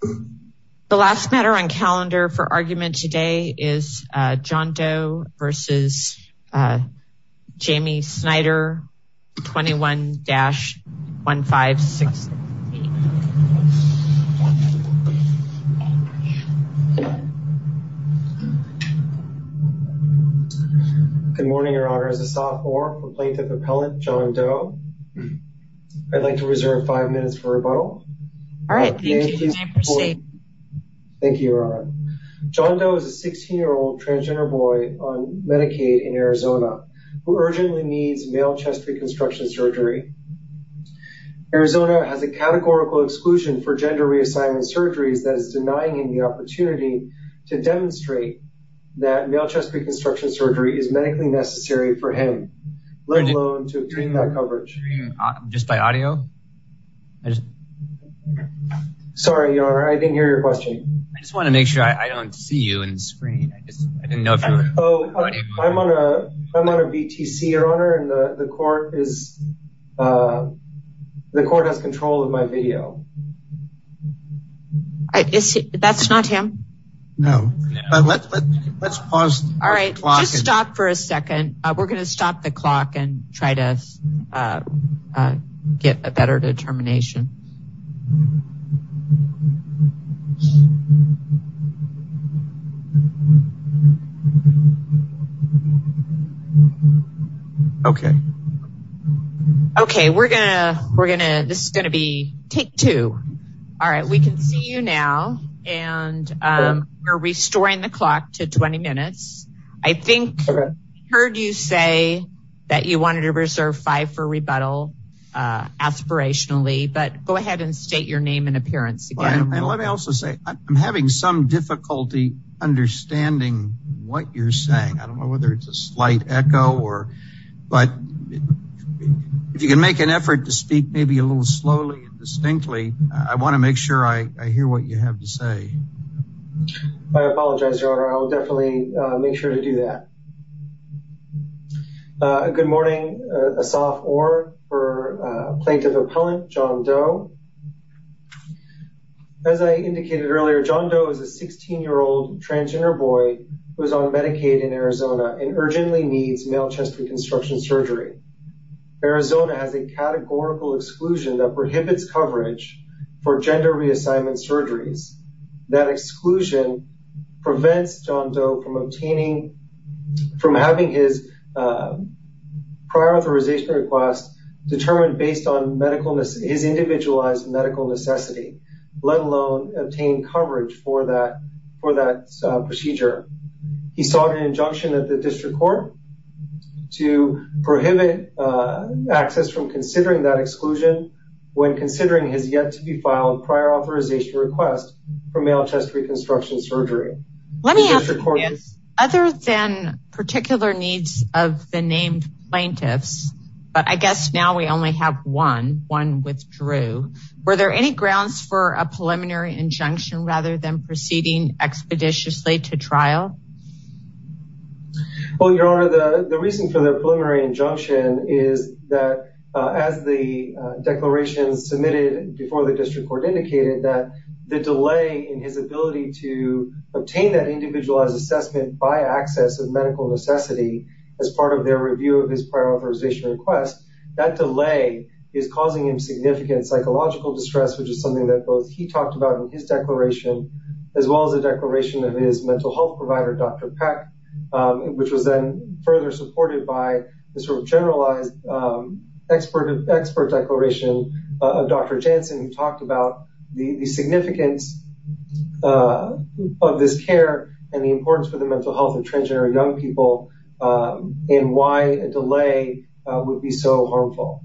The last matter on calendar for argument today is John Doe v. Jami Snyder 21-1568. Good morning, your honor. As a sophomore, Plaintiff Appellant John Doe, I'd like to proceed. Thank you, your honor. John Doe is a 16-year-old transgender boy on Medicaid in Arizona who urgently needs male chest reconstruction surgery. Arizona has a categorical exclusion for gender reassignment surgeries that is denying him the opportunity to demonstrate that male chest reconstruction surgery is medically necessary for him, let alone to obtain that coverage. Sorry, your honor. I didn't hear your question. I just want to make sure I don't see you on the screen. I'm on a VTC, your honor, and the court has control of my video. That's not him? No. Let's pause. All right, just stop for a second. We're going to stop the clock and try to get a better determination. Okay. Okay, we're gonna, we're gonna, this is gonna be take two. All right, we can see you now and we're restoring the clock to 20 minutes. I think I heard you say that you wanted to reserve five for rebuttal aspirationally, but go ahead and state your name and appearance again. Let me also say I'm having some difficulty understanding what you're saying. I don't know whether it's a slight echo or, but if you can make an effort to speak maybe a little slowly and distinctly, I want to make sure I hear what you have to say. I apologize, your honor. I'll definitely make sure to do that. Good morning, a sophomore for plaintiff appellant John Doe. As I indicated earlier, John Doe is a 16-year-old transgender boy who is on Medicaid in Arizona and urgently needs male chest reconstruction surgery. Arizona has a categorical exclusion that prohibits coverage for gender reassignment surgeries. That exclusion prevents John Doe from obtaining, from having his prior authorization request determined based on medical, his individualized medical necessity, let alone obtain coverage for that, for that procedure. He sought an injunction at the district court to prohibit access from considering that exclusion when considering his yet-to-be-filed prior authorization request for male chest reconstruction surgery. Let me ask you this, other than particular needs of the named plaintiffs, but I guess now we only have one, one withdrew, were there any grounds for a preliminary injunction rather than proceeding expeditiously to trial? Well, your honor, the reason for the preliminary injunction is that as the declaration submitted before the district court indicated that the delay in his ability to obtain that individualized assessment by access of medical necessity as part of their review of his prior authorization request, that delay is causing him significant psychological distress, which is something that both he talked about in his declaration, as well as the declaration of his mental health provider, Dr. Peck, which was then further supported by the sort of generalized expert declaration of Dr. Jansen, who talked about the significance of this care and the importance for the mental health of transgender young people in why a delay would be so harmful.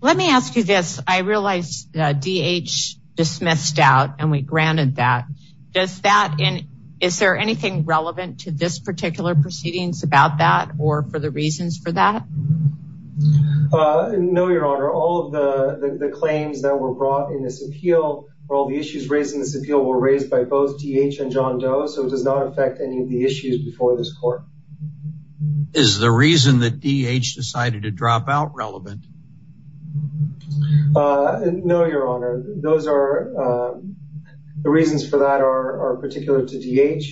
Let me ask you this, I realize DH dismissed out and we granted that. Does that, is there anything relevant to this particular proceedings about that or for the reasons for that? No, your honor, all of the claims that were brought in this appeal or all the issues raised in this appeal were raised by both DH and John Doe, so it does not affect any of the issues before this court. Is the reason that DH decided to drop out relevant? No, your honor, the reasons for that are particular to DH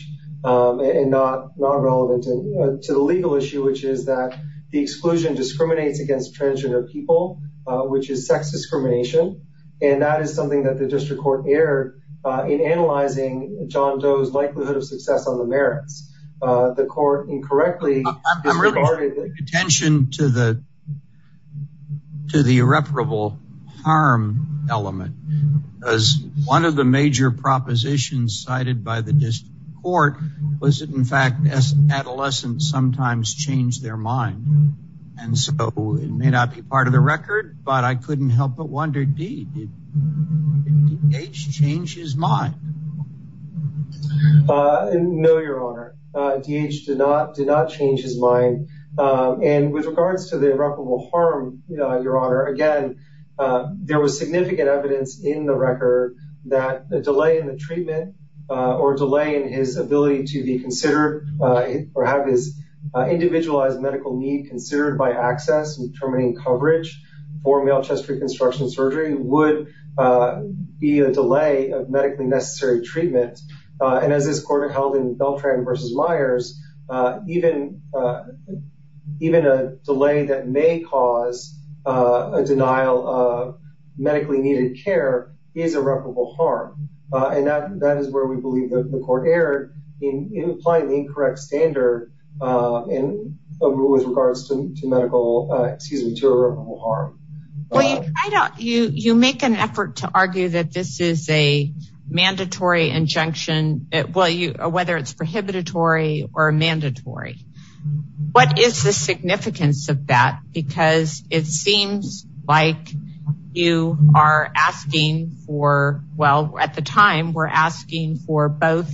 and not relevant to the legal issue, which is that the exclusion discriminates against transgender people, which is sex discrimination, and that is something that the district court erred in analyzing John Doe's likelihood of success on the merits. The court incorrectly- I'm really drawing attention to the irreparable harm element, as one of the major propositions cited by the district court was that, in fact, adolescents sometimes change their mind, and so it may not be part of the record, but I couldn't help but wonder, did DH change his mind? No, your honor, DH did not change his mind, and with regards to the irreparable harm, your honor, again, there was significant evidence in the record that the delay in the treatment or delay in his ability to be considered or have his individualized medical need considered by ACCESS in determining coverage for male chest reconstruction surgery would be a delay of medically necessary treatment, and as this court held in Beltran v. Myers, even a delay that may cause a denial of medically needed care is irreparable harm, and that is where we believe that the court erred in applying the incorrect standard with regards to medical, excuse me, to irreparable harm. Well, you make an effort to argue that this is a mandatory injunction, whether it's prohibitory or mandatory. What is the significance of that? Because it seems like you are asking for, well, at the time, we're asking for both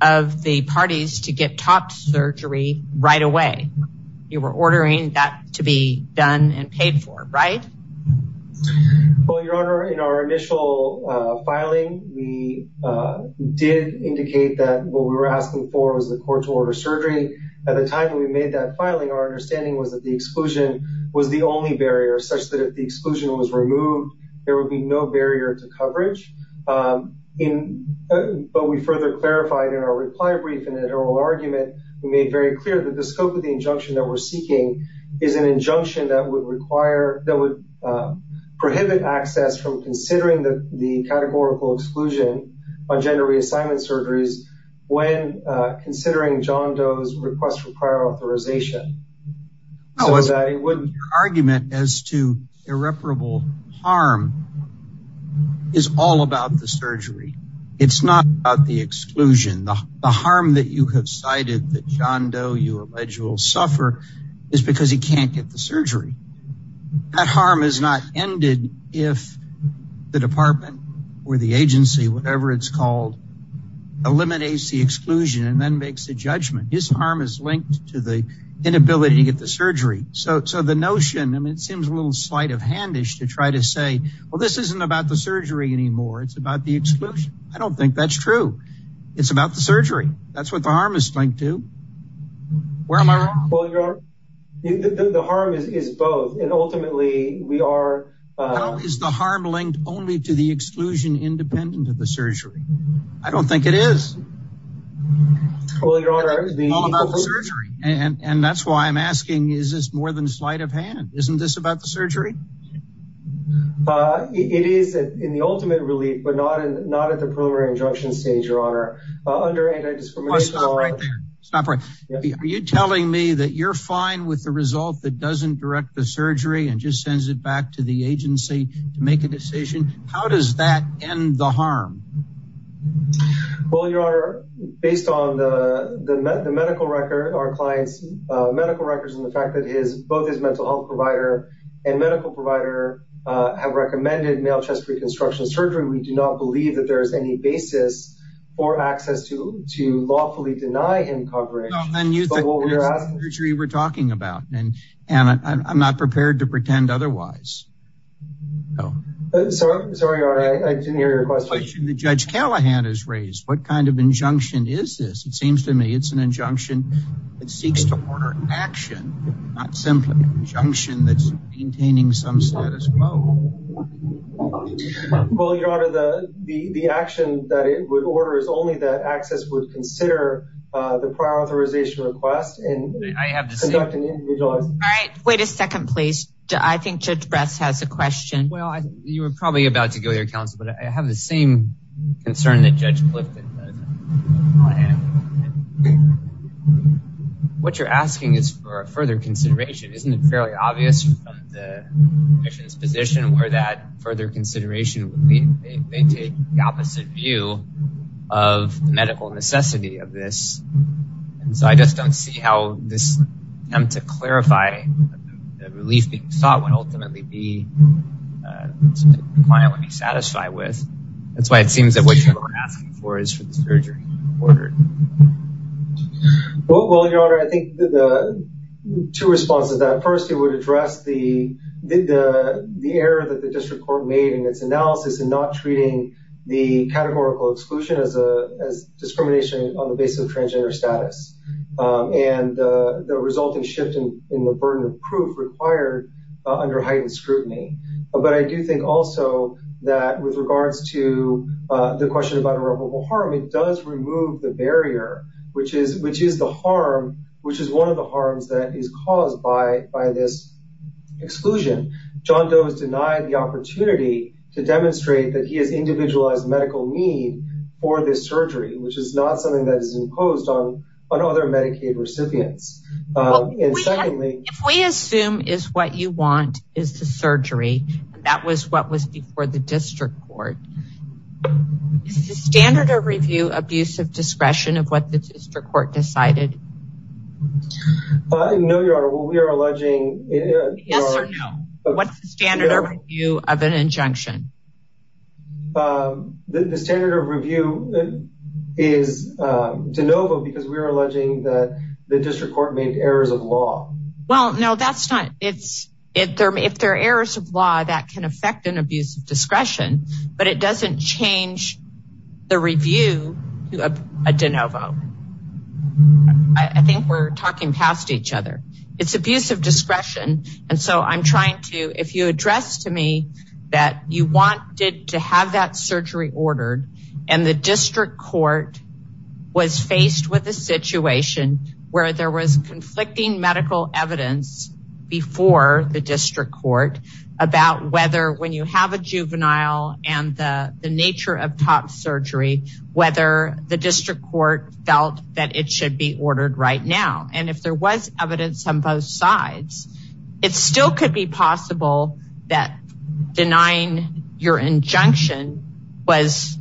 of the parties to get top surgery right away. You were ordering that to be done and paid for, right? Well, your honor, in our initial filing, we did indicate that what we were asking for was the court-to-order surgery. At the time we made that filing, our understanding was that the exclusion was the only barrier, such that if the exclusion was removed, there would be no barrier to coverage, but we further clarified in our reply brief in the oral argument, we made very clear that the scope of the injunction that we're categorical exclusion on gender reassignment surgeries when considering John Doe's request for prior authorization, so that he wouldn't- Your argument as to irreparable harm is all about the surgery. It's not about the exclusion. The harm that you have cited that John Doe, you allege, will suffer is because he can't get the surgery. That harm is not ended if the department or the agency, whatever it's called, eliminates the exclusion and then makes the judgment. His harm is linked to the inability to get the surgery. So the notion, I mean, it seems a little slight of handish to try to say, well, this isn't about the surgery anymore. It's about the exclusion. I don't think that's true. It's about the surgery. That's what the harm is linked to. Where am I wrong? Well, your honor, the harm is both. And ultimately, we are- How is the harm linked only to the exclusion independent of the surgery? I don't think it is. Well, your honor- It's all about the surgery. And that's why I'm asking, is this more than slight of hand? Isn't this about the surgery? It is in the ultimate relief, but not at the preliminary injunction stage, your honor. Under anti-discrimination law- Oh, stop right there. Stop right- Are you telling me that you're fine with the result that doesn't direct the surgery and just sends it back to the agency to make a decision? How does that end the harm? Well, your honor, based on the medical record, our client's medical records and the fact that both his mental health provider and medical provider have recommended male chest reconstruction surgery, we do not believe that there is any basis or access to lawfully deny him coverage. No, and you think that's the surgery we're talking about. And I'm not prepared to pretend otherwise. Sorry, your honor, I didn't hear your question. The question that Judge Callahan has raised, what kind of injunction is this? It seems to me it's an injunction that seeks to order action, not simply an injunction that's maintaining some status quo. Well, your honor, the action that it would order is only that access would consider the prior authorization request and conduct an individualized- All right, wait a second, please. I think Judge Bress has a question. Well, you were probably about to go to your counsel, but I have the same concern that Judge Clifton has. What you're asking is for further consideration. Isn't it fairly obvious from the disposition where that further consideration would mean they take the opposite view of the medical necessity of this? And so I just don't see how this attempt to clarify the relief being sought would ultimately be something the client would be satisfied with. That's why it seems that what you're asking for is for the surgery to be ordered. Well, your honor, I think the two responses to that, first, it would address the error that the district court made in its analysis in not treating the categorical exclusion as discrimination on the basis of transgender status and the resulting shift in the burden of proof required under heightened scrutiny. But I do think also that with regards to the question about irreparable harm, it does remove the barrier, which is the harm, which is one of the harms that is caused by this exclusion. John Doe has denied the opportunity to demonstrate that he has individualized medical need for this surgery, which is not something that is imposed on other Medicaid recipients. If we assume is what you want is the surgery and that was what was before the district court, is the standard of review abusive discretion of what the district court decided? No, your honor, we are alleging yes or no. What's the standard of review of an injunction? The standard of review is de novo because we are alleging that the district court made errors of law. Well, no, that's not it. If there are errors of law, that can affect an abuse of discretion, but it doesn't change the review to a de novo. I think we're talking past each other. It's abuse of discretion. And so I'm trying to, if you address to me that you wanted to have that surgery ordered and the district court was faced with a situation where there was conflicting medical evidence before the district court about whether when you have a juvenile and the nature of top surgery, whether the district court felt that it should be ordered right now. And if there was evidence on both sides, it still could be possible that denying your injunction was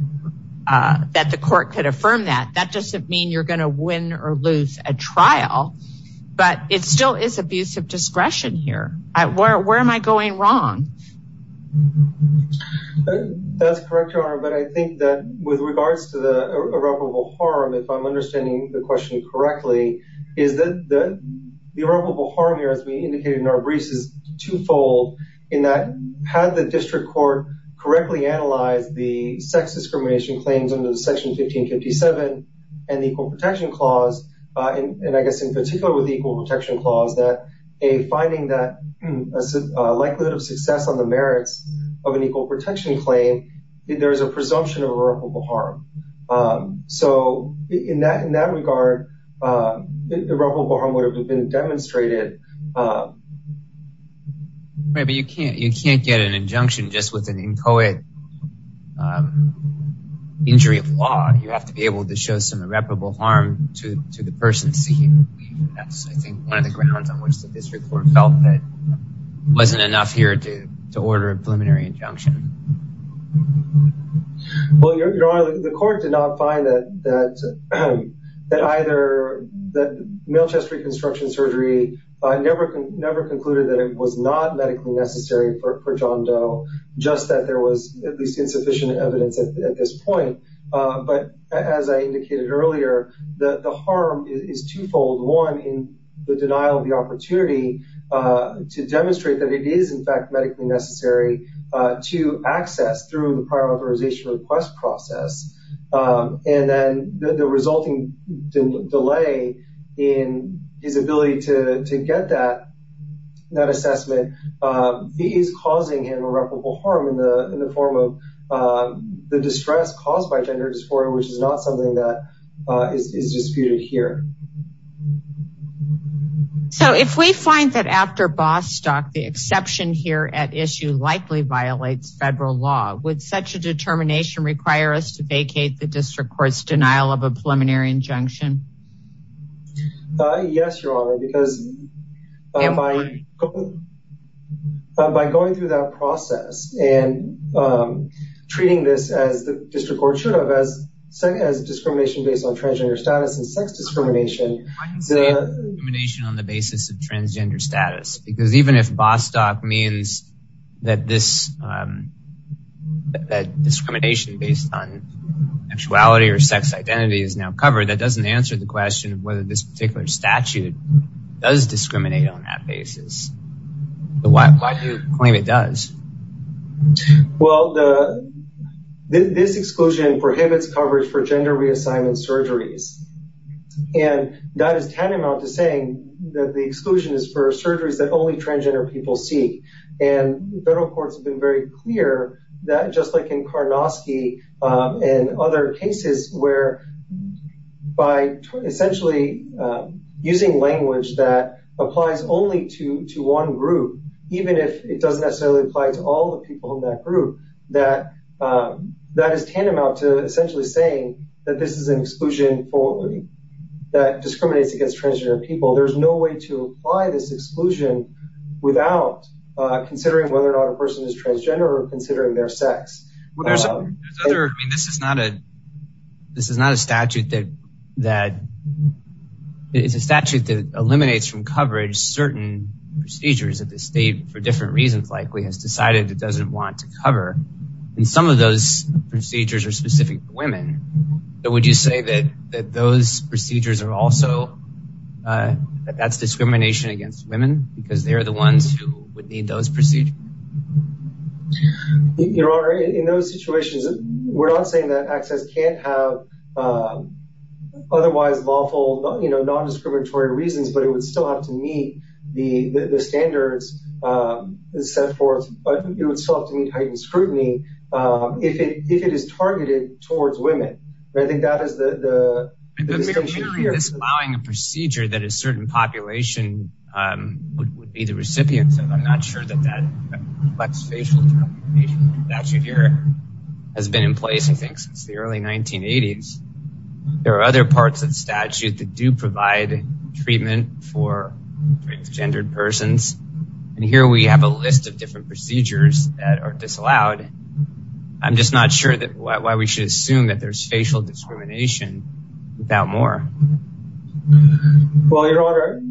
that court could affirm that. That doesn't mean you're going to win or lose a trial, but it still is abuse of discretion here. Where am I going wrong? That's correct, your honor. But I think that with regards to the irreparable harm, if I'm understanding the question correctly, is that the irreparable harm here, as we indicated in our briefs, is twofold in that had the district court correctly analyzed the sex discrimination claims under the section 1557 and the equal protection clause. And I guess in particular with the equal protection clause that a finding that a likelihood of success on the merits of an equal protection claim, there is a presumption of irreparable harm. So in that, in that regard, irreparable harm would have been demonstrated. Right, but you can't, you can't get an injunction just with an inchoate injury of law. You have to be able to show some irreparable harm to the person seeking. That's, I think, one of the grounds on which the district court felt that wasn't enough here to order a preliminary injunction. Well, your honor, the court did not find that either, that male chest reconstruction surgery never concluded that it was not medically necessary for John Doe, just that there was at least insufficient evidence at this point. But as I indicated earlier, the harm is twofold. One, in the denial of the opportunity to demonstrate that it is in fact medically necessary to access through the prior authorization request process. And then the resulting delay in his to get that assessment is causing him irreparable harm in the form of the distress caused by gender dysphoria, which is not something that is disputed here. So if we find that after Bostock, the exception here at issue likely violates federal law, would such a determination require us to vacate the district court's denial of a preliminary injunction? Yes, your honor, because by going through that process and treating this as the district court should have, as discrimination based on transgender status and sex discrimination. Discrimination on the basis of transgender status, because even if Bostock means that this that discrimination based on sexuality or sex identity is now covered, that doesn't answer the question of whether this particular statute does discriminate on that basis. But why do you claim it does? Well, the, this exclusion prohibits coverage for gender reassignment surgeries. And that is tantamount to saying that the exclusion is for surgeries that only transgender people see. And federal courts have been very clear that just like in Karnosky and other cases where by essentially using language that applies only to one group, even if it doesn't necessarily apply to all the people in that group, that is tantamount to essentially saying that this is an exclusion that discriminates against transgender people. There's no way to apply this exclusion without considering whether or not a person is transgender or considering their sex. There's other, I mean, this is not a, this is not a statute that that is a statute that eliminates from coverage certain procedures that the state for different reasons likely has decided it doesn't want to cover. And some of those procedures are specific women. So would you say that, that those procedures are also, that's discrimination against women because they're the ones who would need those procedures? Your Honor, in those situations, we're not saying that access can't have otherwise lawful, you know, non-discriminatory reasons, but it would still have to meet the standards set forth, but it would still have to meet heightened scrutiny. If it, if it is targeted towards women, I think that is the, the procedure that a certain population would be the recipients of. I'm not sure that that complex facial statute here has been in place. I think since the early 1980s, there are other parts of the statute that do provide treatment for transgendered persons. And here we have a list of different procedures that are disallowed. I'm just not sure that why we should assume that there's facial discrimination without more. Well, Your Honor,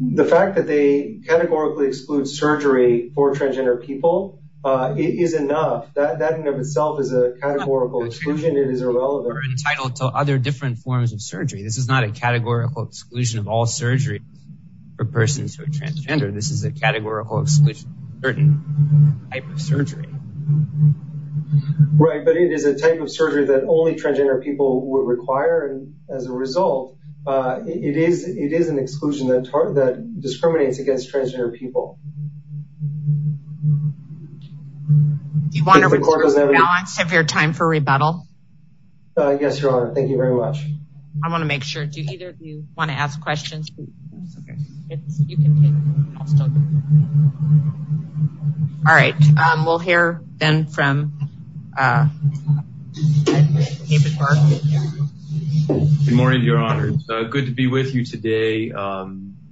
the fact that they categorically exclude surgery for transgender people, it is enough. That in and of itself is a categorical exclusion. It is irrelevant. We're entitled to other different forms of surgery. This is not a categorical exclusion of all surgery for persons who are transgender. This is a categorical exclusion. Right. But it is a type of surgery that only transgender people would require. And as a result, it is, it is an exclusion that discriminates against transgender people. Do you want a balance of your time for rebuttal? Yes, Your Honor. Thank you very much. I want to make sure. Do either of you want to ask questions? All right. We'll hear then from David Barton. Good morning, Your Honor. Good to be with you today.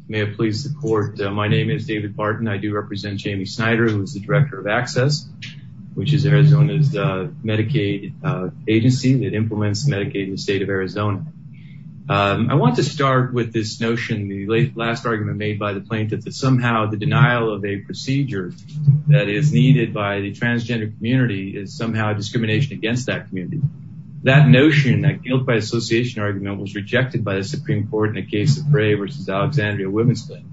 May I please support? My name is David Barton. I do represent Jamie Snyder, who is the director of ACCESS, which is Arizona's Medicaid agency that implements Medicaid in the state of Arizona. I want to start with this notion, the last argument made by the plaintiff that somehow the denial of a procedure that is needed by the transgender community is somehow discrimination against that community. That notion, that guilt by association argument, was rejected by the Supreme Court in a case of Bray v. Alexandria Women's Clinic.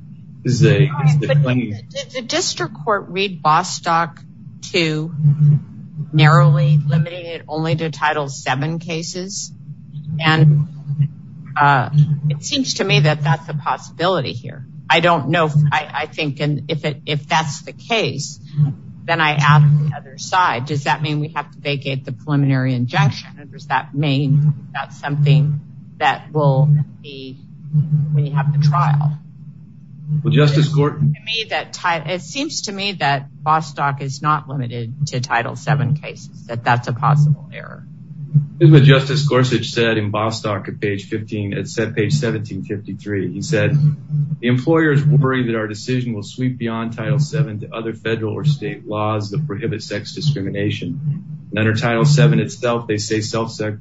Did the district court read seven cases? And it seems to me that that's a possibility here. I don't know. I think if that's the case, then I ask the other side, does that mean we have to vacate the preliminary injunction? And does that mean that's something that will be when you have the trial? It seems to me that Bostock is not limited to Title VII cases, that that's a possible error. Justice Gorsuch said in Bostock at page 15, at page 1753, he said, the employers worry that our decision will sweep beyond Title VII to other federal or state laws that prohibit sex discrimination. Under Title VII itself, they say self-sex,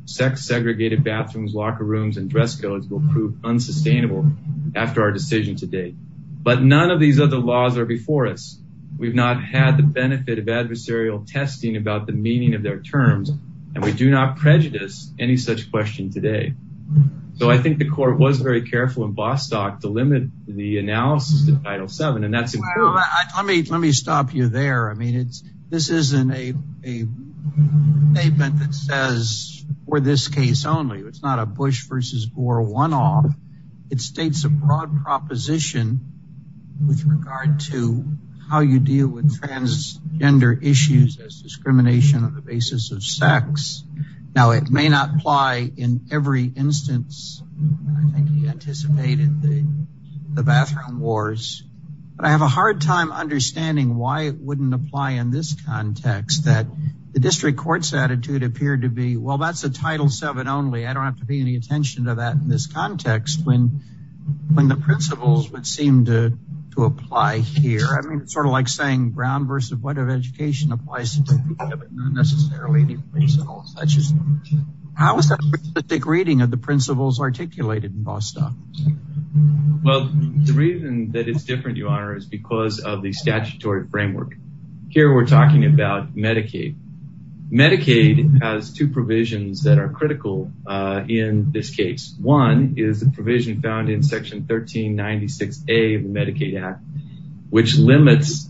segregated bathrooms, locker rooms, and dress codes will prove unsustainable after our decision today. But none of these other laws are before us. We've not had the benefit of adversarial testing about the meaning of their terms, and we do not prejudice any such question today. So I think the court was very careful in Bostock to limit the analysis to Title VII, and that's important. Let me stop you there. I mean, this isn't a statement that says for this case only. It's not a Bush versus Gore one-off. It states a broad proposition with regard to how you deal with gender issues as discrimination on the basis of sex. Now, it may not apply in every instance. I think he anticipated the bathroom wars. But I have a hard time understanding why it wouldn't apply in this context, that the district court's attitude appeared to be, well, that's a Title VII only. I don't have to pay any attention to that in this context when the principles would seem to apply here. I mean, it's sort of like saying Brown versus White of education applies to Title VII, but not necessarily the principles. How is that reading of the principles articulated in Bostock? Well, the reason that it's different, Your Honor, is because of the statutory framework. Here we're talking about Medicaid. Medicaid has two provisions that are critical in this case. One is the provision found in Section 1396A of the Medicaid Act, which limits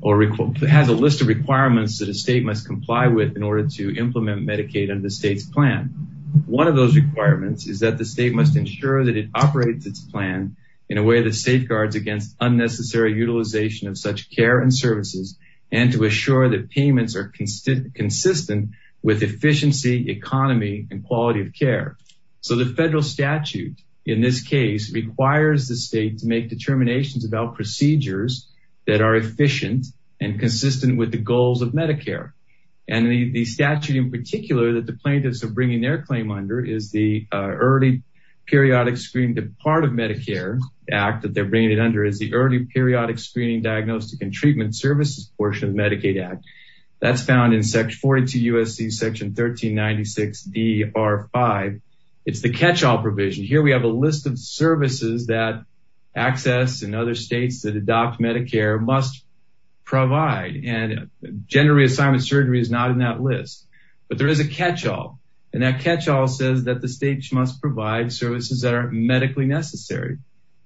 or has a list of requirements that a state must comply with in order to implement Medicaid under the state's plan. One of those requirements is that the state must ensure that it operates its plan in a way that safeguards against unnecessary utilization of such care and services and to assure that payments are consistent with efficiency, economy, and quality of care. So the federal statute in this case requires the state to make determinations about procedures that are efficient and consistent with the goals of Medicare. And the statute in particular that the plaintiffs are bringing their claim under is the Early Periodic Screening, the part of Medicare Act that they're bringing it under is the Early Periodic Screening, Diagnostic, and Treatment Services portion of Medicaid Act. That's found in 42 U.S.C. Section 1396 D.R. 5. It's the catch-all provision. Here we have a list of services that access and other states that adopt Medicare must provide. And gender reassignment surgery is not in that list, but there is a catch-all. And that catch-all says that the states must provide services that are medically necessary.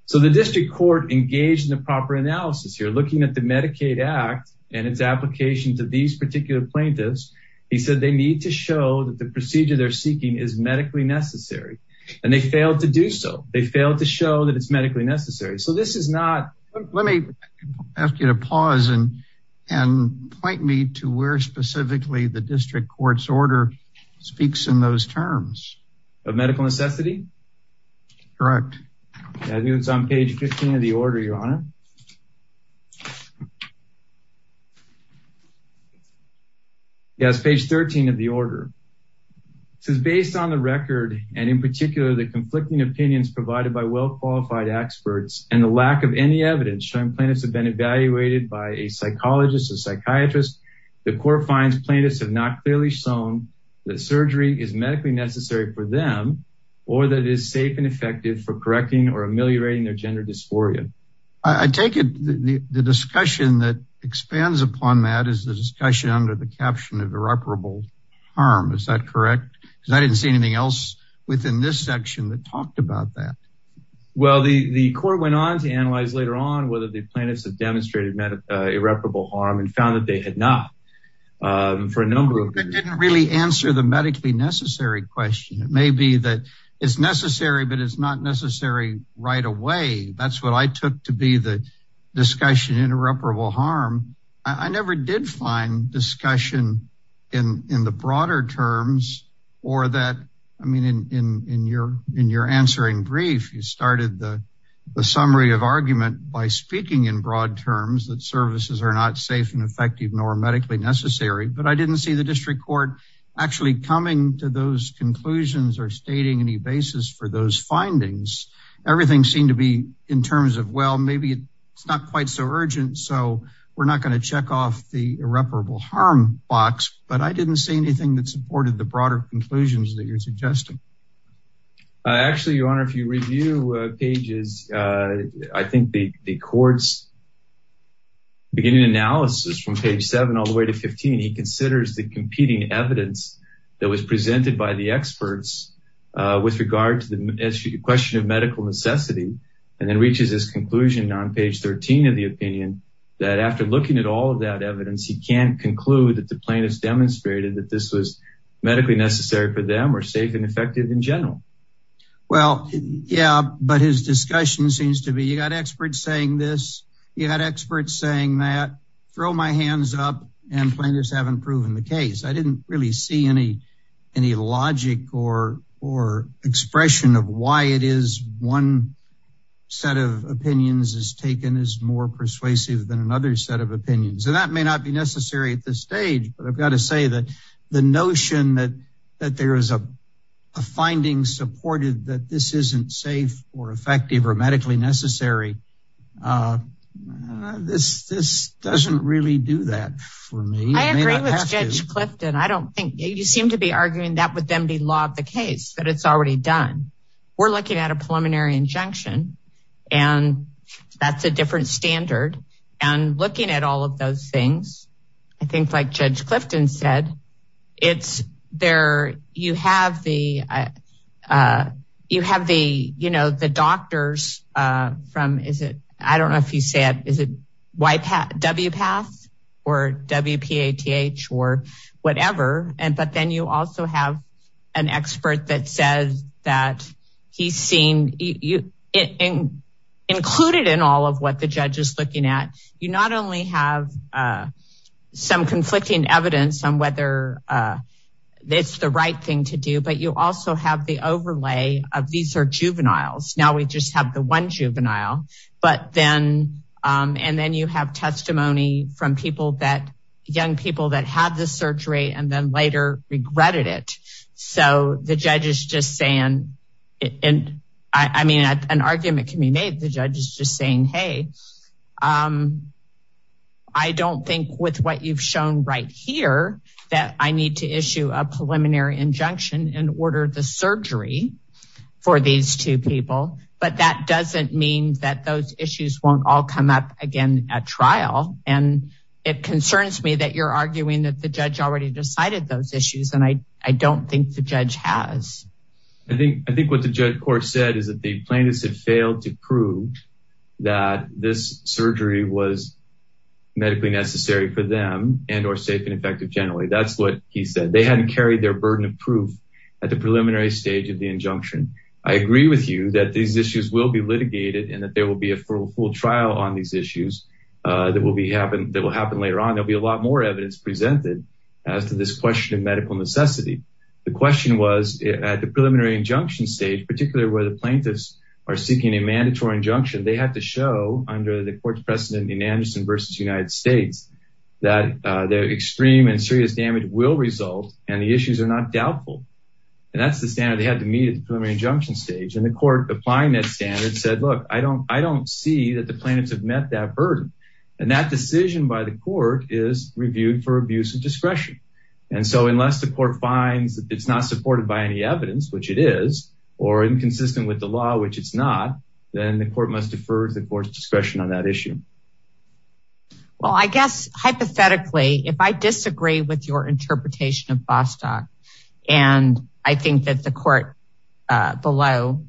So the district court engaged in the analysis here, looking at the Medicaid Act and its application to these particular plaintiffs, he said they need to show that the procedure they're seeking is medically necessary. And they failed to do so. They failed to show that it's medically necessary. So this is not- Let me ask you to pause and point me to where specifically the district court's order speaks in those terms. Of medical necessity? Correct. I think it's on page 15 of the order, Your Honor. Yes, page 13 of the order. This is based on the record and in particular the conflicting opinions provided by well-qualified experts and the lack of any evidence showing plaintiffs have been evaluated by a psychologist or psychiatrist. The court finds plaintiffs have not clearly shown that surgery is medically necessary for them or that it is safe and I take it the discussion that expands upon that is the discussion under the caption of irreparable harm. Is that correct? Because I didn't see anything else within this section that talked about that. Well, the court went on to analyze later on whether the plaintiffs have demonstrated irreparable harm and found that they had not for a number of years. That didn't really answer the medically necessary question. It may be that it's necessary, but it's necessary right away. That's what I took to be the discussion, irreparable harm. I never did find discussion in the broader terms or that, I mean, in your answering brief, you started the summary of argument by speaking in broad terms that services are not safe and effective nor medically necessary, but I didn't see the district court actually coming to those conclusions or stating any basis for those findings. Everything seemed to be in terms of, well, maybe it's not quite so urgent, so we're not going to check off the irreparable harm box, but I didn't see anything that supported the broader conclusions that you're suggesting. Actually, your honor, if you review pages, I think the court's beginning analysis from page seven all the way to 15, he considers the competing evidence that was presented by the experts with regard to the question of medical necessity and then reaches his conclusion on page 13 of the opinion that after looking at all of that evidence, he can't conclude that the plaintiffs demonstrated that this was medically necessary for them or safe and effective in general. Well, yeah, but his discussion seems to be, you got experts saying this, you had experts saying that, throw my hands up, and plaintiffs haven't proven the case. I didn't really see any logic or expression of why it is one set of opinions is taken as more persuasive than another set of opinions, and that may not be necessary at this stage, but I've got to say that the notion that there is a finding supported that this isn't safe or effective or this doesn't really do that for me. I agree with Judge Clifton. I don't think, you seem to be arguing that would then be law of the case, but it's already done. We're looking at a preliminary injunction, and that's a different standard, and looking at all of those things, I think like Judge I don't know if you said, is it WPATH or WPATH or whatever, but then you also have an expert that says that he's seen, included in all of what the judge is looking at, you not only have some conflicting evidence on whether it's the right thing to do, but you also have the overlay of these are juveniles. Now we just have the one juvenile, and then you have testimony from people that young people that had the surgery and then later regretted it. So the judge is just saying, and I mean, an argument can be made. The judge is just saying, hey, I don't think with what you've shown right here that I need to issue a preliminary injunction and order the surgery for these two people, but that doesn't mean that those issues won't all come up again at trial. And it concerns me that you're arguing that the judge already decided those issues, and I don't think the judge has. I think what the judge court said is that the plaintiffs had failed to prove that this surgery was medically necessary for them and or safe and proof at the preliminary stage of the injunction. I agree with you that these issues will be litigated and that there will be a full trial on these issues that will happen later on. There'll be a lot more evidence presented as to this question of medical necessity. The question was at the preliminary injunction stage, particularly where the plaintiffs are seeking a mandatory injunction, they had to show under the court's precedent in Anderson versus United States, that their extreme and serious damage will result and the issues are not doubtful. And that's the standard they had to meet at the preliminary injunction stage. And the court applying that standard said, look, I don't see that the plaintiffs have met that burden. And that decision by the court is reviewed for abuse of discretion. And so unless the court finds that it's not supported by any evidence, which it is, or inconsistent with the law, which it's not, then the court must defer to the court's discretion on that issue. Well, I guess hypothetically, if I disagree with your interpretation of Bostock, and I think that the court below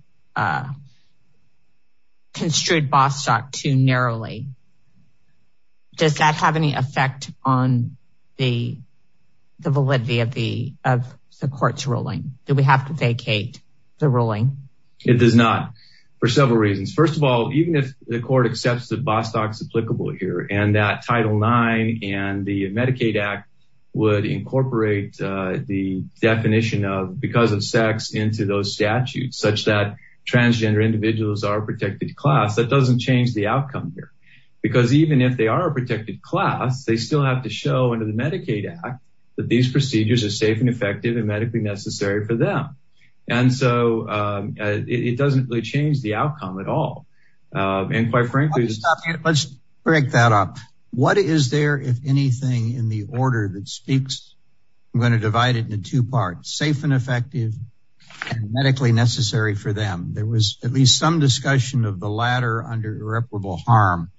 construed Bostock too narrowly, does that have any effect on the validity of the court's ruling? Do we have to vacate the ruling? It does not, for several reasons. First of all, even if the court accepts that and that Title IX and the Medicaid Act would incorporate the definition of because of sex into those statutes, such that transgender individuals are protected class, that doesn't change the outcome here. Because even if they are protected class, they still have to show under the Medicaid Act, that these procedures are safe and effective and medically necessary for them. And so it doesn't really change the outcome at all. And quite frankly, Let's break that up. What is there, if anything, in the order that speaks, I'm going to divide it into two parts, safe and effective, and medically necessary for them. There was at least some discussion of the latter under irreparable harm.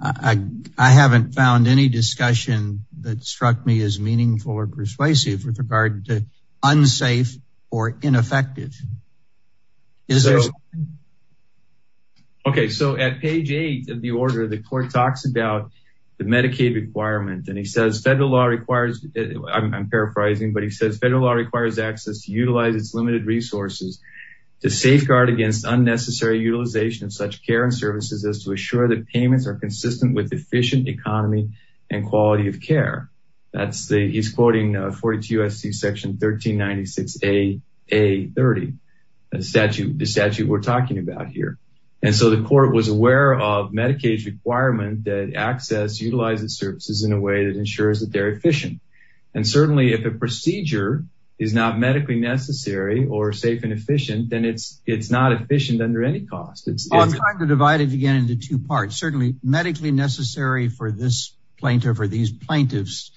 I haven't found any persuasive with regard to unsafe or ineffective. Okay, so at page eight of the order, the court talks about the Medicaid requirement, and he says federal law requires, I'm paraphrasing, but he says federal law requires access to utilize its limited resources to safeguard against unnecessary utilization of such care and services as to assure that payments are consistent with 42 U.S.C. section 1396A.30, the statute we're talking about here. And so the court was aware of Medicaid's requirement that access utilizes services in a way that ensures that they're efficient. And certainly if a procedure is not medically necessary or safe and efficient, then it's not efficient under any cost. I'm trying to divide it again into two parts. Certainly medically necessary for this plaintiff or these plaintiffs,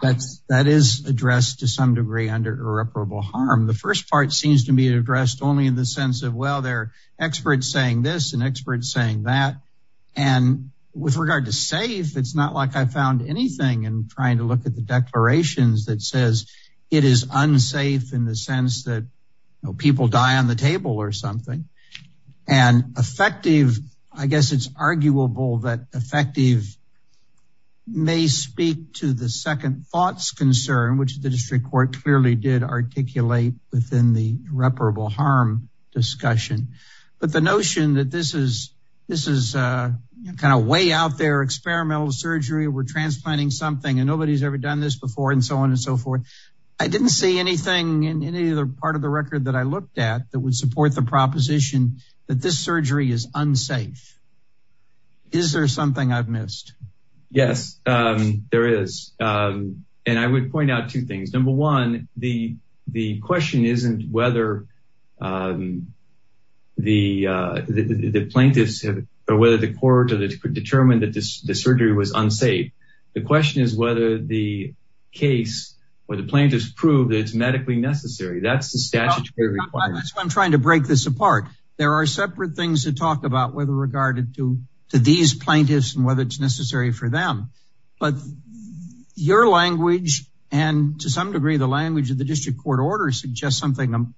that is addressed to some degree under irreparable harm. The first part seems to be addressed only in the sense of, well, they're experts saying this and experts saying that. And with regard to safe, it's not like I found anything in trying to look at the declarations that says it is unsafe in the sense that people die on the table or something. And effective, I guess it's arguable that effective may speak to the second thoughts concern, which the district court clearly did articulate within the irreparable harm discussion. But the notion that this is kind of way out there, experimental surgery, we're transplanting something, and nobody's ever done this before and so on and so forth. I didn't see anything in any other part of the record that I looked at that would support the proposition that this surgery is unsafe. Is there something I've missed? Yes, there is. And I would point out two things. Number one, the question isn't whether the plaintiffs or whether the court determined that this surgery was unsafe. The question is whether the case or the plaintiffs prove that it's medically necessary. That's the statutory requirements. I'm trying to break this apart. There are separate things to talk about whether regarded to these plaintiffs and whether it's necessary for them. But your language, and to some degree, the language of the district court order suggests something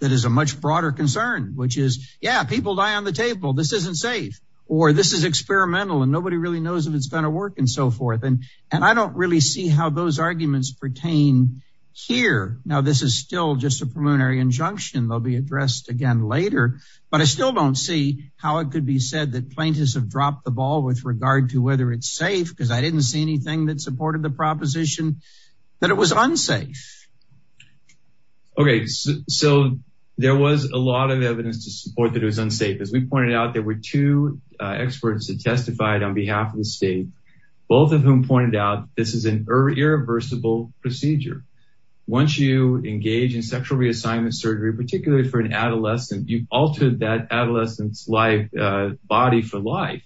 that is a much broader concern, which is, yeah, people die on the table, this isn't safe, or this is experimental, and nobody really knows if it's going to work and so forth. And I don't really see how those arguments pertain here. Now, this is still just a preliminary injunction. They'll be addressed again later. But I still don't see how it could be said that plaintiffs have dropped the ball with regard to whether it's safe, because I didn't see anything that supported the proposition that it was unsafe. Okay, so there was a lot of evidence to support that it was unsafe. As we pointed out, there were two experts that testified on behalf of the state, both of whom pointed out this is an irreversible procedure. Once you engage in sexual reassignment surgery, particularly for an adolescent, you've altered that adolescent's life, body for life.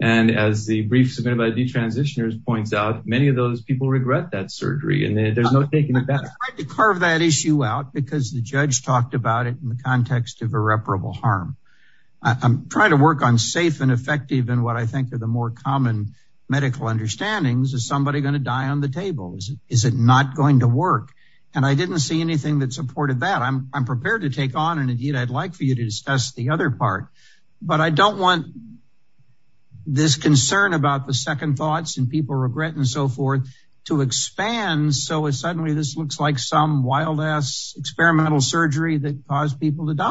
And as the brief submitted by the de-transitioners points out, many of those people regret that surgery, and there's no taking it back. I tried to carve that issue out because the judge talked about it in the context of irreparable harm. I'm trying to work on safe and effective and what I think are the more common medical understandings. Is somebody going to die on the tables? Is it not going to work? And I didn't see anything that supported that. I'm prepared to take on and indeed, I'd like for you to discuss the other part. But I don't want this concern about the second thoughts and people regret and so forth to expand. So suddenly this looks like some wild ass experimental surgery that caused people to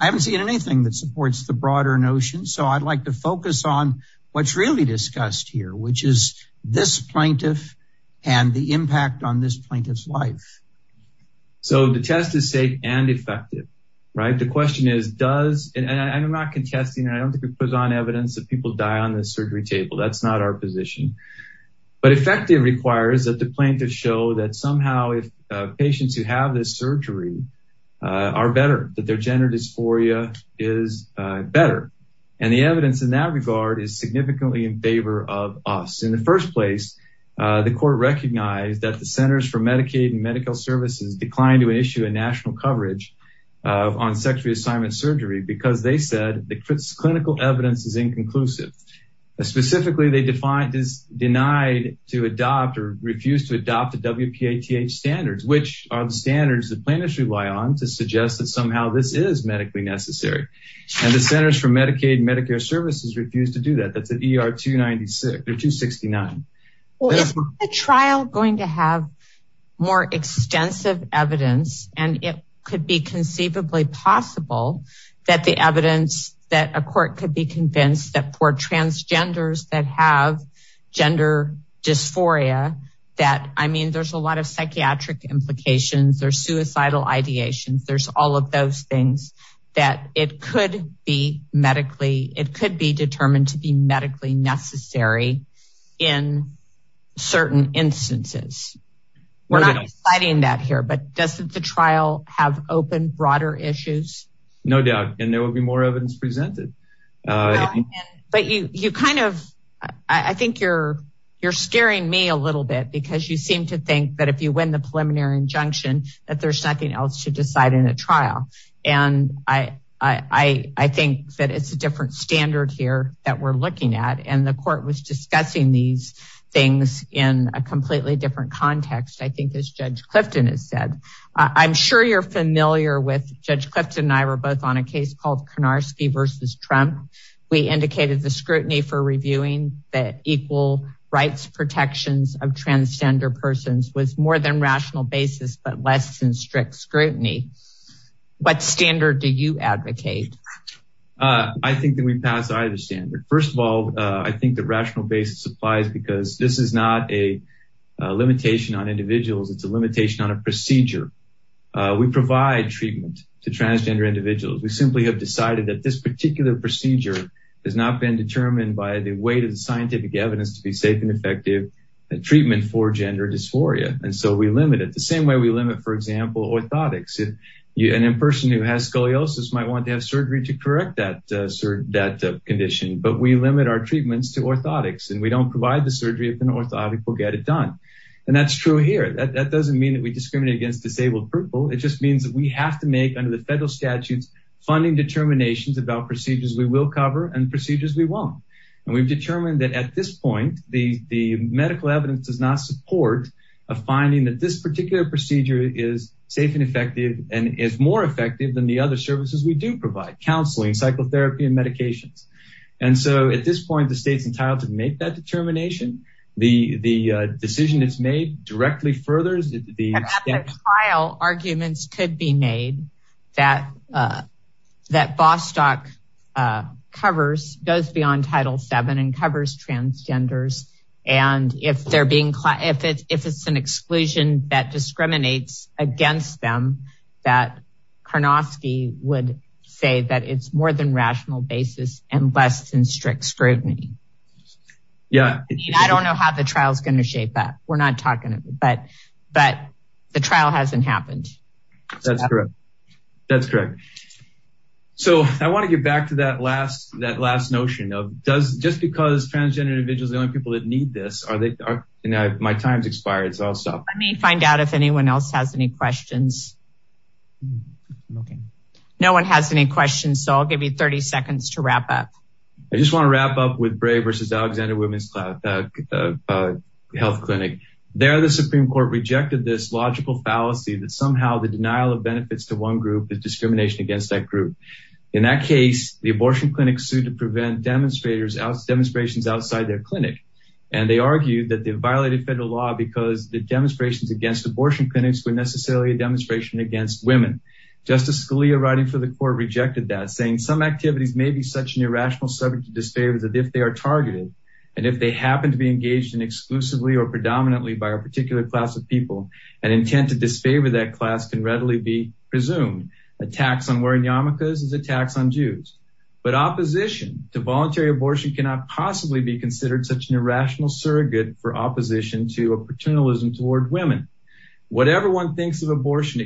I haven't seen anything that supports the broader notion. So I'd like to focus on what's really discussed here, which is this plaintiff and the impact on this plaintiff's life. So the test is safe and effective, right? The question is, does and I'm not contesting, I don't think it puts on evidence that people die on the surgery table. That's not our position. But effective requires that the plaintiff show that somehow if patients who have this surgery are better, that their gender dysphoria is better. And the evidence in that regard is significantly in favor of us. In the first place, the court recognized that the Centers for Medicaid and Medical Services declined to issue a national coverage on sex reassignment surgery because they said the clinical evidence is inconclusive. Specifically, they defined is denied to adopt the WPATH standards, which are the standards the plaintiffs rely on to suggest that somehow this is medically necessary. And the Centers for Medicaid and Medicare Services refused to do that. That's an ER 296 or 269. Is the trial going to have more extensive evidence and it could be conceivably possible that the evidence that a court could be convinced that for transgenders that have gender dysphoria, that I mean, there's a lot of psychiatric implications, there's suicidal ideations, there's all of those things that it could be medically, it could be determined to be medically necessary in certain instances. We're not citing that here, but doesn't the trial have open broader issues? No doubt, and there will be more evidence presented. But you kind of, I think you're scaring me a little bit because you seem to think that if you win the preliminary injunction, that there's nothing else to decide in a trial. And I think that it's a different standard here that we're looking at. And the court was discussing these things in a completely different context, I think as Judge Clifton has said. I'm sure you're Trump. We indicated the scrutiny for reviewing that equal rights protections of transgender persons was more than rational basis, but less than strict scrutiny. What standard do you advocate? I think that we pass either standard. First of all, I think the rational basis applies because this is not a limitation on individuals, it's a limitation on a procedure. We provide treatment to transgender individuals. We simply have decided that this particular procedure has not been determined by the weight of the scientific evidence to be safe and effective treatment for gender dysphoria. And so we limit it the same way we limit, for example, orthotics. And in person who has scoliosis might want to have surgery to correct that condition, but we limit our treatments to orthotics and we don't provide the surgery if an orthotic will get it done. And that's true here. That doesn't mean that we discriminate against disabled people. It just means that we have to make under the federal statutes, funding determinations about procedures we will cover and procedures we won't. And we've determined that at this point, the medical evidence does not support a finding that this particular procedure is safe and effective and is more effective than the other services we do provide counseling, psychotherapy and medications. And so at this point, the state's made that determination. The decision is made directly furthers. Arguments could be made that Bostock covers, goes beyond Title VII and covers transgenders. And if it's an exclusion that discriminates against them, that Karnofsky would say that it's more than rational basis and less than strict scrutiny. Yeah, I don't know how the trial is going to shape that. We're not talking about, but the trial hasn't happened. That's correct. That's correct. So I want to get back to that last, that last notion of does just because transgender individuals, the only people that need this, are they, my time's expired. So I'll stop. Let me find out if anyone else has any questions. No one has any questions, so I'll give you 30 seconds to wrap up. I just want to wrap up with Bray versus Alexander Women's Health Clinic. There, the Supreme Court rejected this logical fallacy that somehow the denial of benefits to one group is discrimination against that group. In that case, the abortion clinic sued to prevent demonstrators, demonstrations outside their clinic. And they argued that they violated federal law because the demonstrations against abortion clinics were necessarily a demonstration against women. Justice Scalia, writing for the court, rejected that, saying some activities may be such an irrational subject to disfavor that if they are targeted, and if they happen to be engaged in exclusively or predominantly by a particular class of people, an intent to disfavor that class can readily be presumed. Attacks on wearing yarmulkes is attacks on Jews. But opposition to voluntary abortion cannot possibly be considered such an irrational surrogate for opposition to a paternalism toward women. Whatever one thinks of for opposing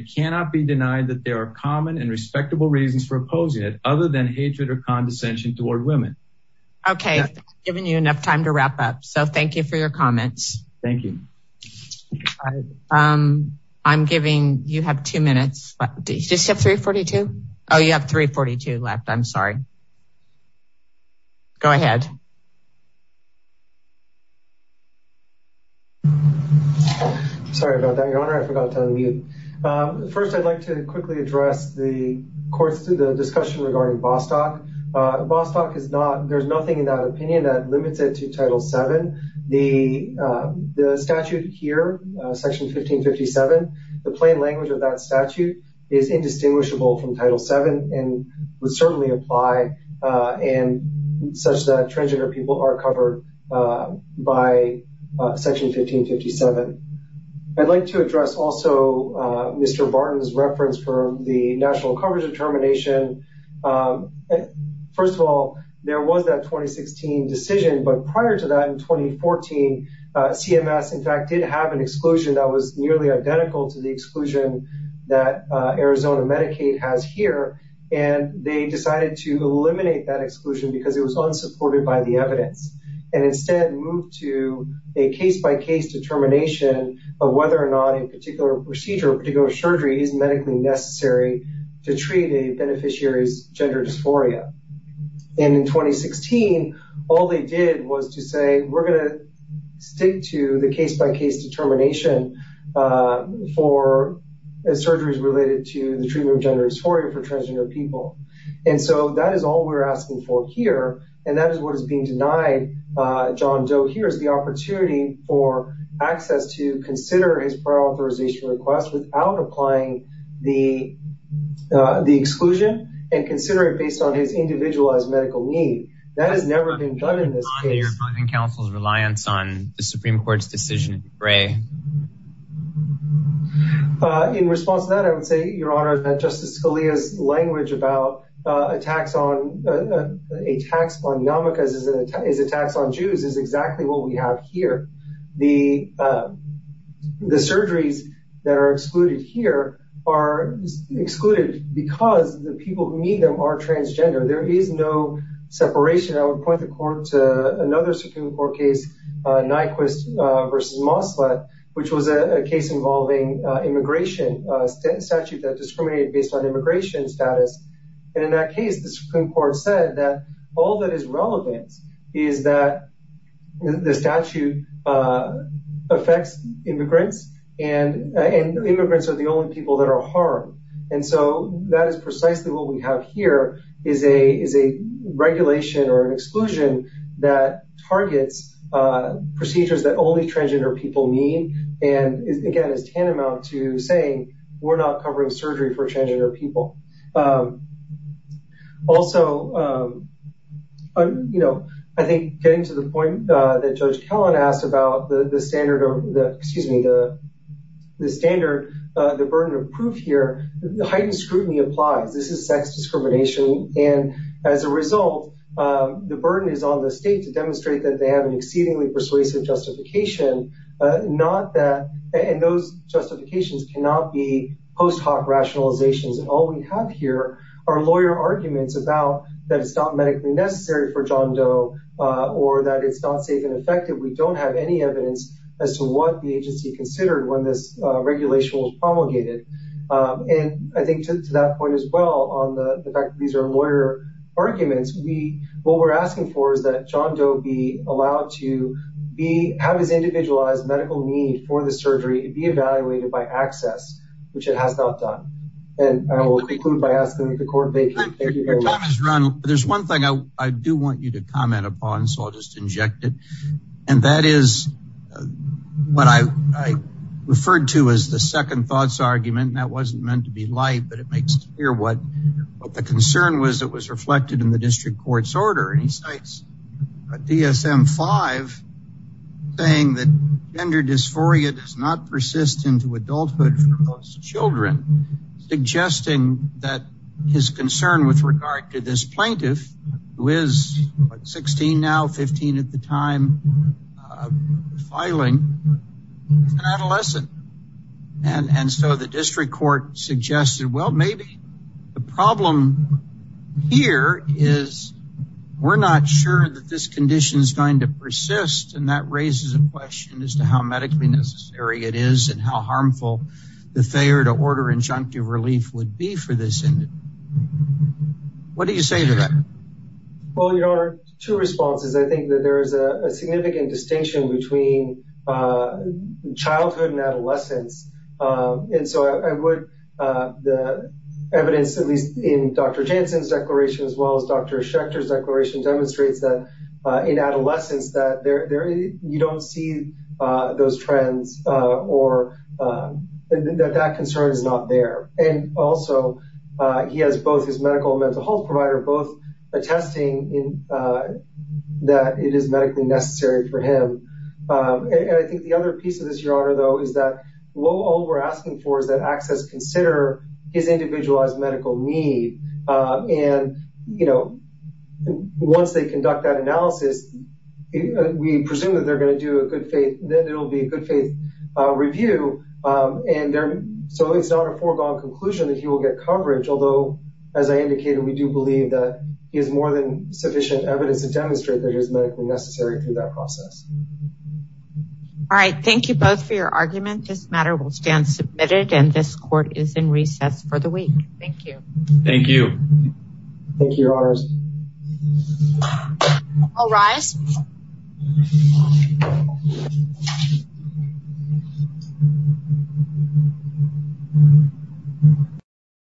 it, other than hatred or condescension toward women. Okay, I've given you enough time to wrap up, so thank you for your comments. Thank you. I'm giving you have two minutes, but did you just have 3.42? Oh, you have 3.42 left. I'm sorry. Go ahead. I'm sorry about that, Your Honor. I forgot to unmute. First, I'd like to quickly address the discussion regarding Bostock. Bostock, there's nothing in that opinion that limits it to Title VII. The statute here, Section 1557, the plain language of that statute is indistinguishable from Title VII and would certainly apply and such that transgender people are covered by Section 1557. I'd like to address also Mr. Barton's reference for the national coverage determination. First of all, there was that 2016 decision, but prior to that in 2014, CMS, in fact, did have an exclusion that was nearly identical to the exclusion that Arizona Medicaid has here, and they decided to eliminate that exclusion because it was unsupported by the evidence and instead moved to a case-by-case determination of whether or not a particular procedure, a particular surgery is medically necessary to treat a beneficiary's gender dysphoria. In 2016, all they did was to say, we're going to stick to the case-by-case determination for surgeries related to the treatment of gender dysphoria for transgender people. That is all we're asking for here, and that is what is being denied John Doe here is the opportunity for access to consider his prior authorization request without applying the exclusion and consider it based on his individualized medical need. That has never been done in this case. In response to that, I would say, Your Honor, that Justice Scalia's language about attacks on a tax on yarmulkes is attacks on Jews is exactly what we have here. The surgeries that are excluded here are excluded because the people who need them are transgender. There is no separation. I would point the court to another Supreme Court case, Nyquist versus Moslet, which was a case involving immigration statute that discriminated based on immigration status. In that case, the Supreme Court said that all that is relevant is that the statute affects immigrants, and immigrants are the only people that are harmed. That is precisely what we have here, is a regulation or an exclusion that targets procedures that only transgender people need. Again, it is tantamount to saying we're not covering surgery for transgender people. Also, I think getting to the point that Judge Kellan asked about the standard of the burden of proof here, heightened scrutiny applies. This is sex discrimination, and as a result, the burden is on the state to demonstrate that they have an exceedingly persuasive justification. Those justifications cannot be post hoc rationalizations. All we have here are lawyer arguments about that it's not medically necessary for John Doe, or that it's not safe and effective. We don't have any evidence as to what the agency considered when this regulation was promulgated. And I think to that point, as well, on the fact that these are lawyer arguments, what we're asking for is that John Doe be allowed to have his individualized medical need for the surgery to be evaluated by access, which it has not done. And I will conclude by asking the court. There's one thing I do want you to comment upon, so I'll just inject it. And that is what I referred to as the second thoughts argument. And that wasn't meant to be light, but it makes it clear what the concern was that was reflected in the district court's order. And he cites a DSM-5 saying that gender dysphoria does not persist into adulthood for most children, suggesting that his concern with regard to this plaintiff, who is 16 now, 15 at the time, filing, is an adolescent. And so the district court suggested, well, maybe the problem here is we're not sure that this condition is going to persist. And that raises a question as to how medically necessary it is and how harmful the failure to order injunctive relief would be for this individual. What do you say to that? Well, your honor, two responses. I think that there is a significant distinction between childhood and adolescence. And so I would, the evidence, at least in Dr. Jansen's declaration, as well as Dr. Schechter's declaration, demonstrates that in adolescence that you don't see those trends or that that concern is not there. And also, he has both his medical and mental health provider both attesting that it is medically necessary for him. And I think the other piece of this, your honor, though, is that all we're asking for is that access consider his individualized medical need. And, you know, once they conduct that analysis, we presume that they're going to do a good faith, that it'll be a good faith review. And so it's not a foregone conclusion that he will get coverage. Although, as I indicated, we do believe that he has more than sufficient evidence to demonstrate that it is medically necessary through that process. All right. Thank you both for your argument. This matter will stand submitted and this court is in recess for the week. Thank you. Thank you. Thank you, your honor.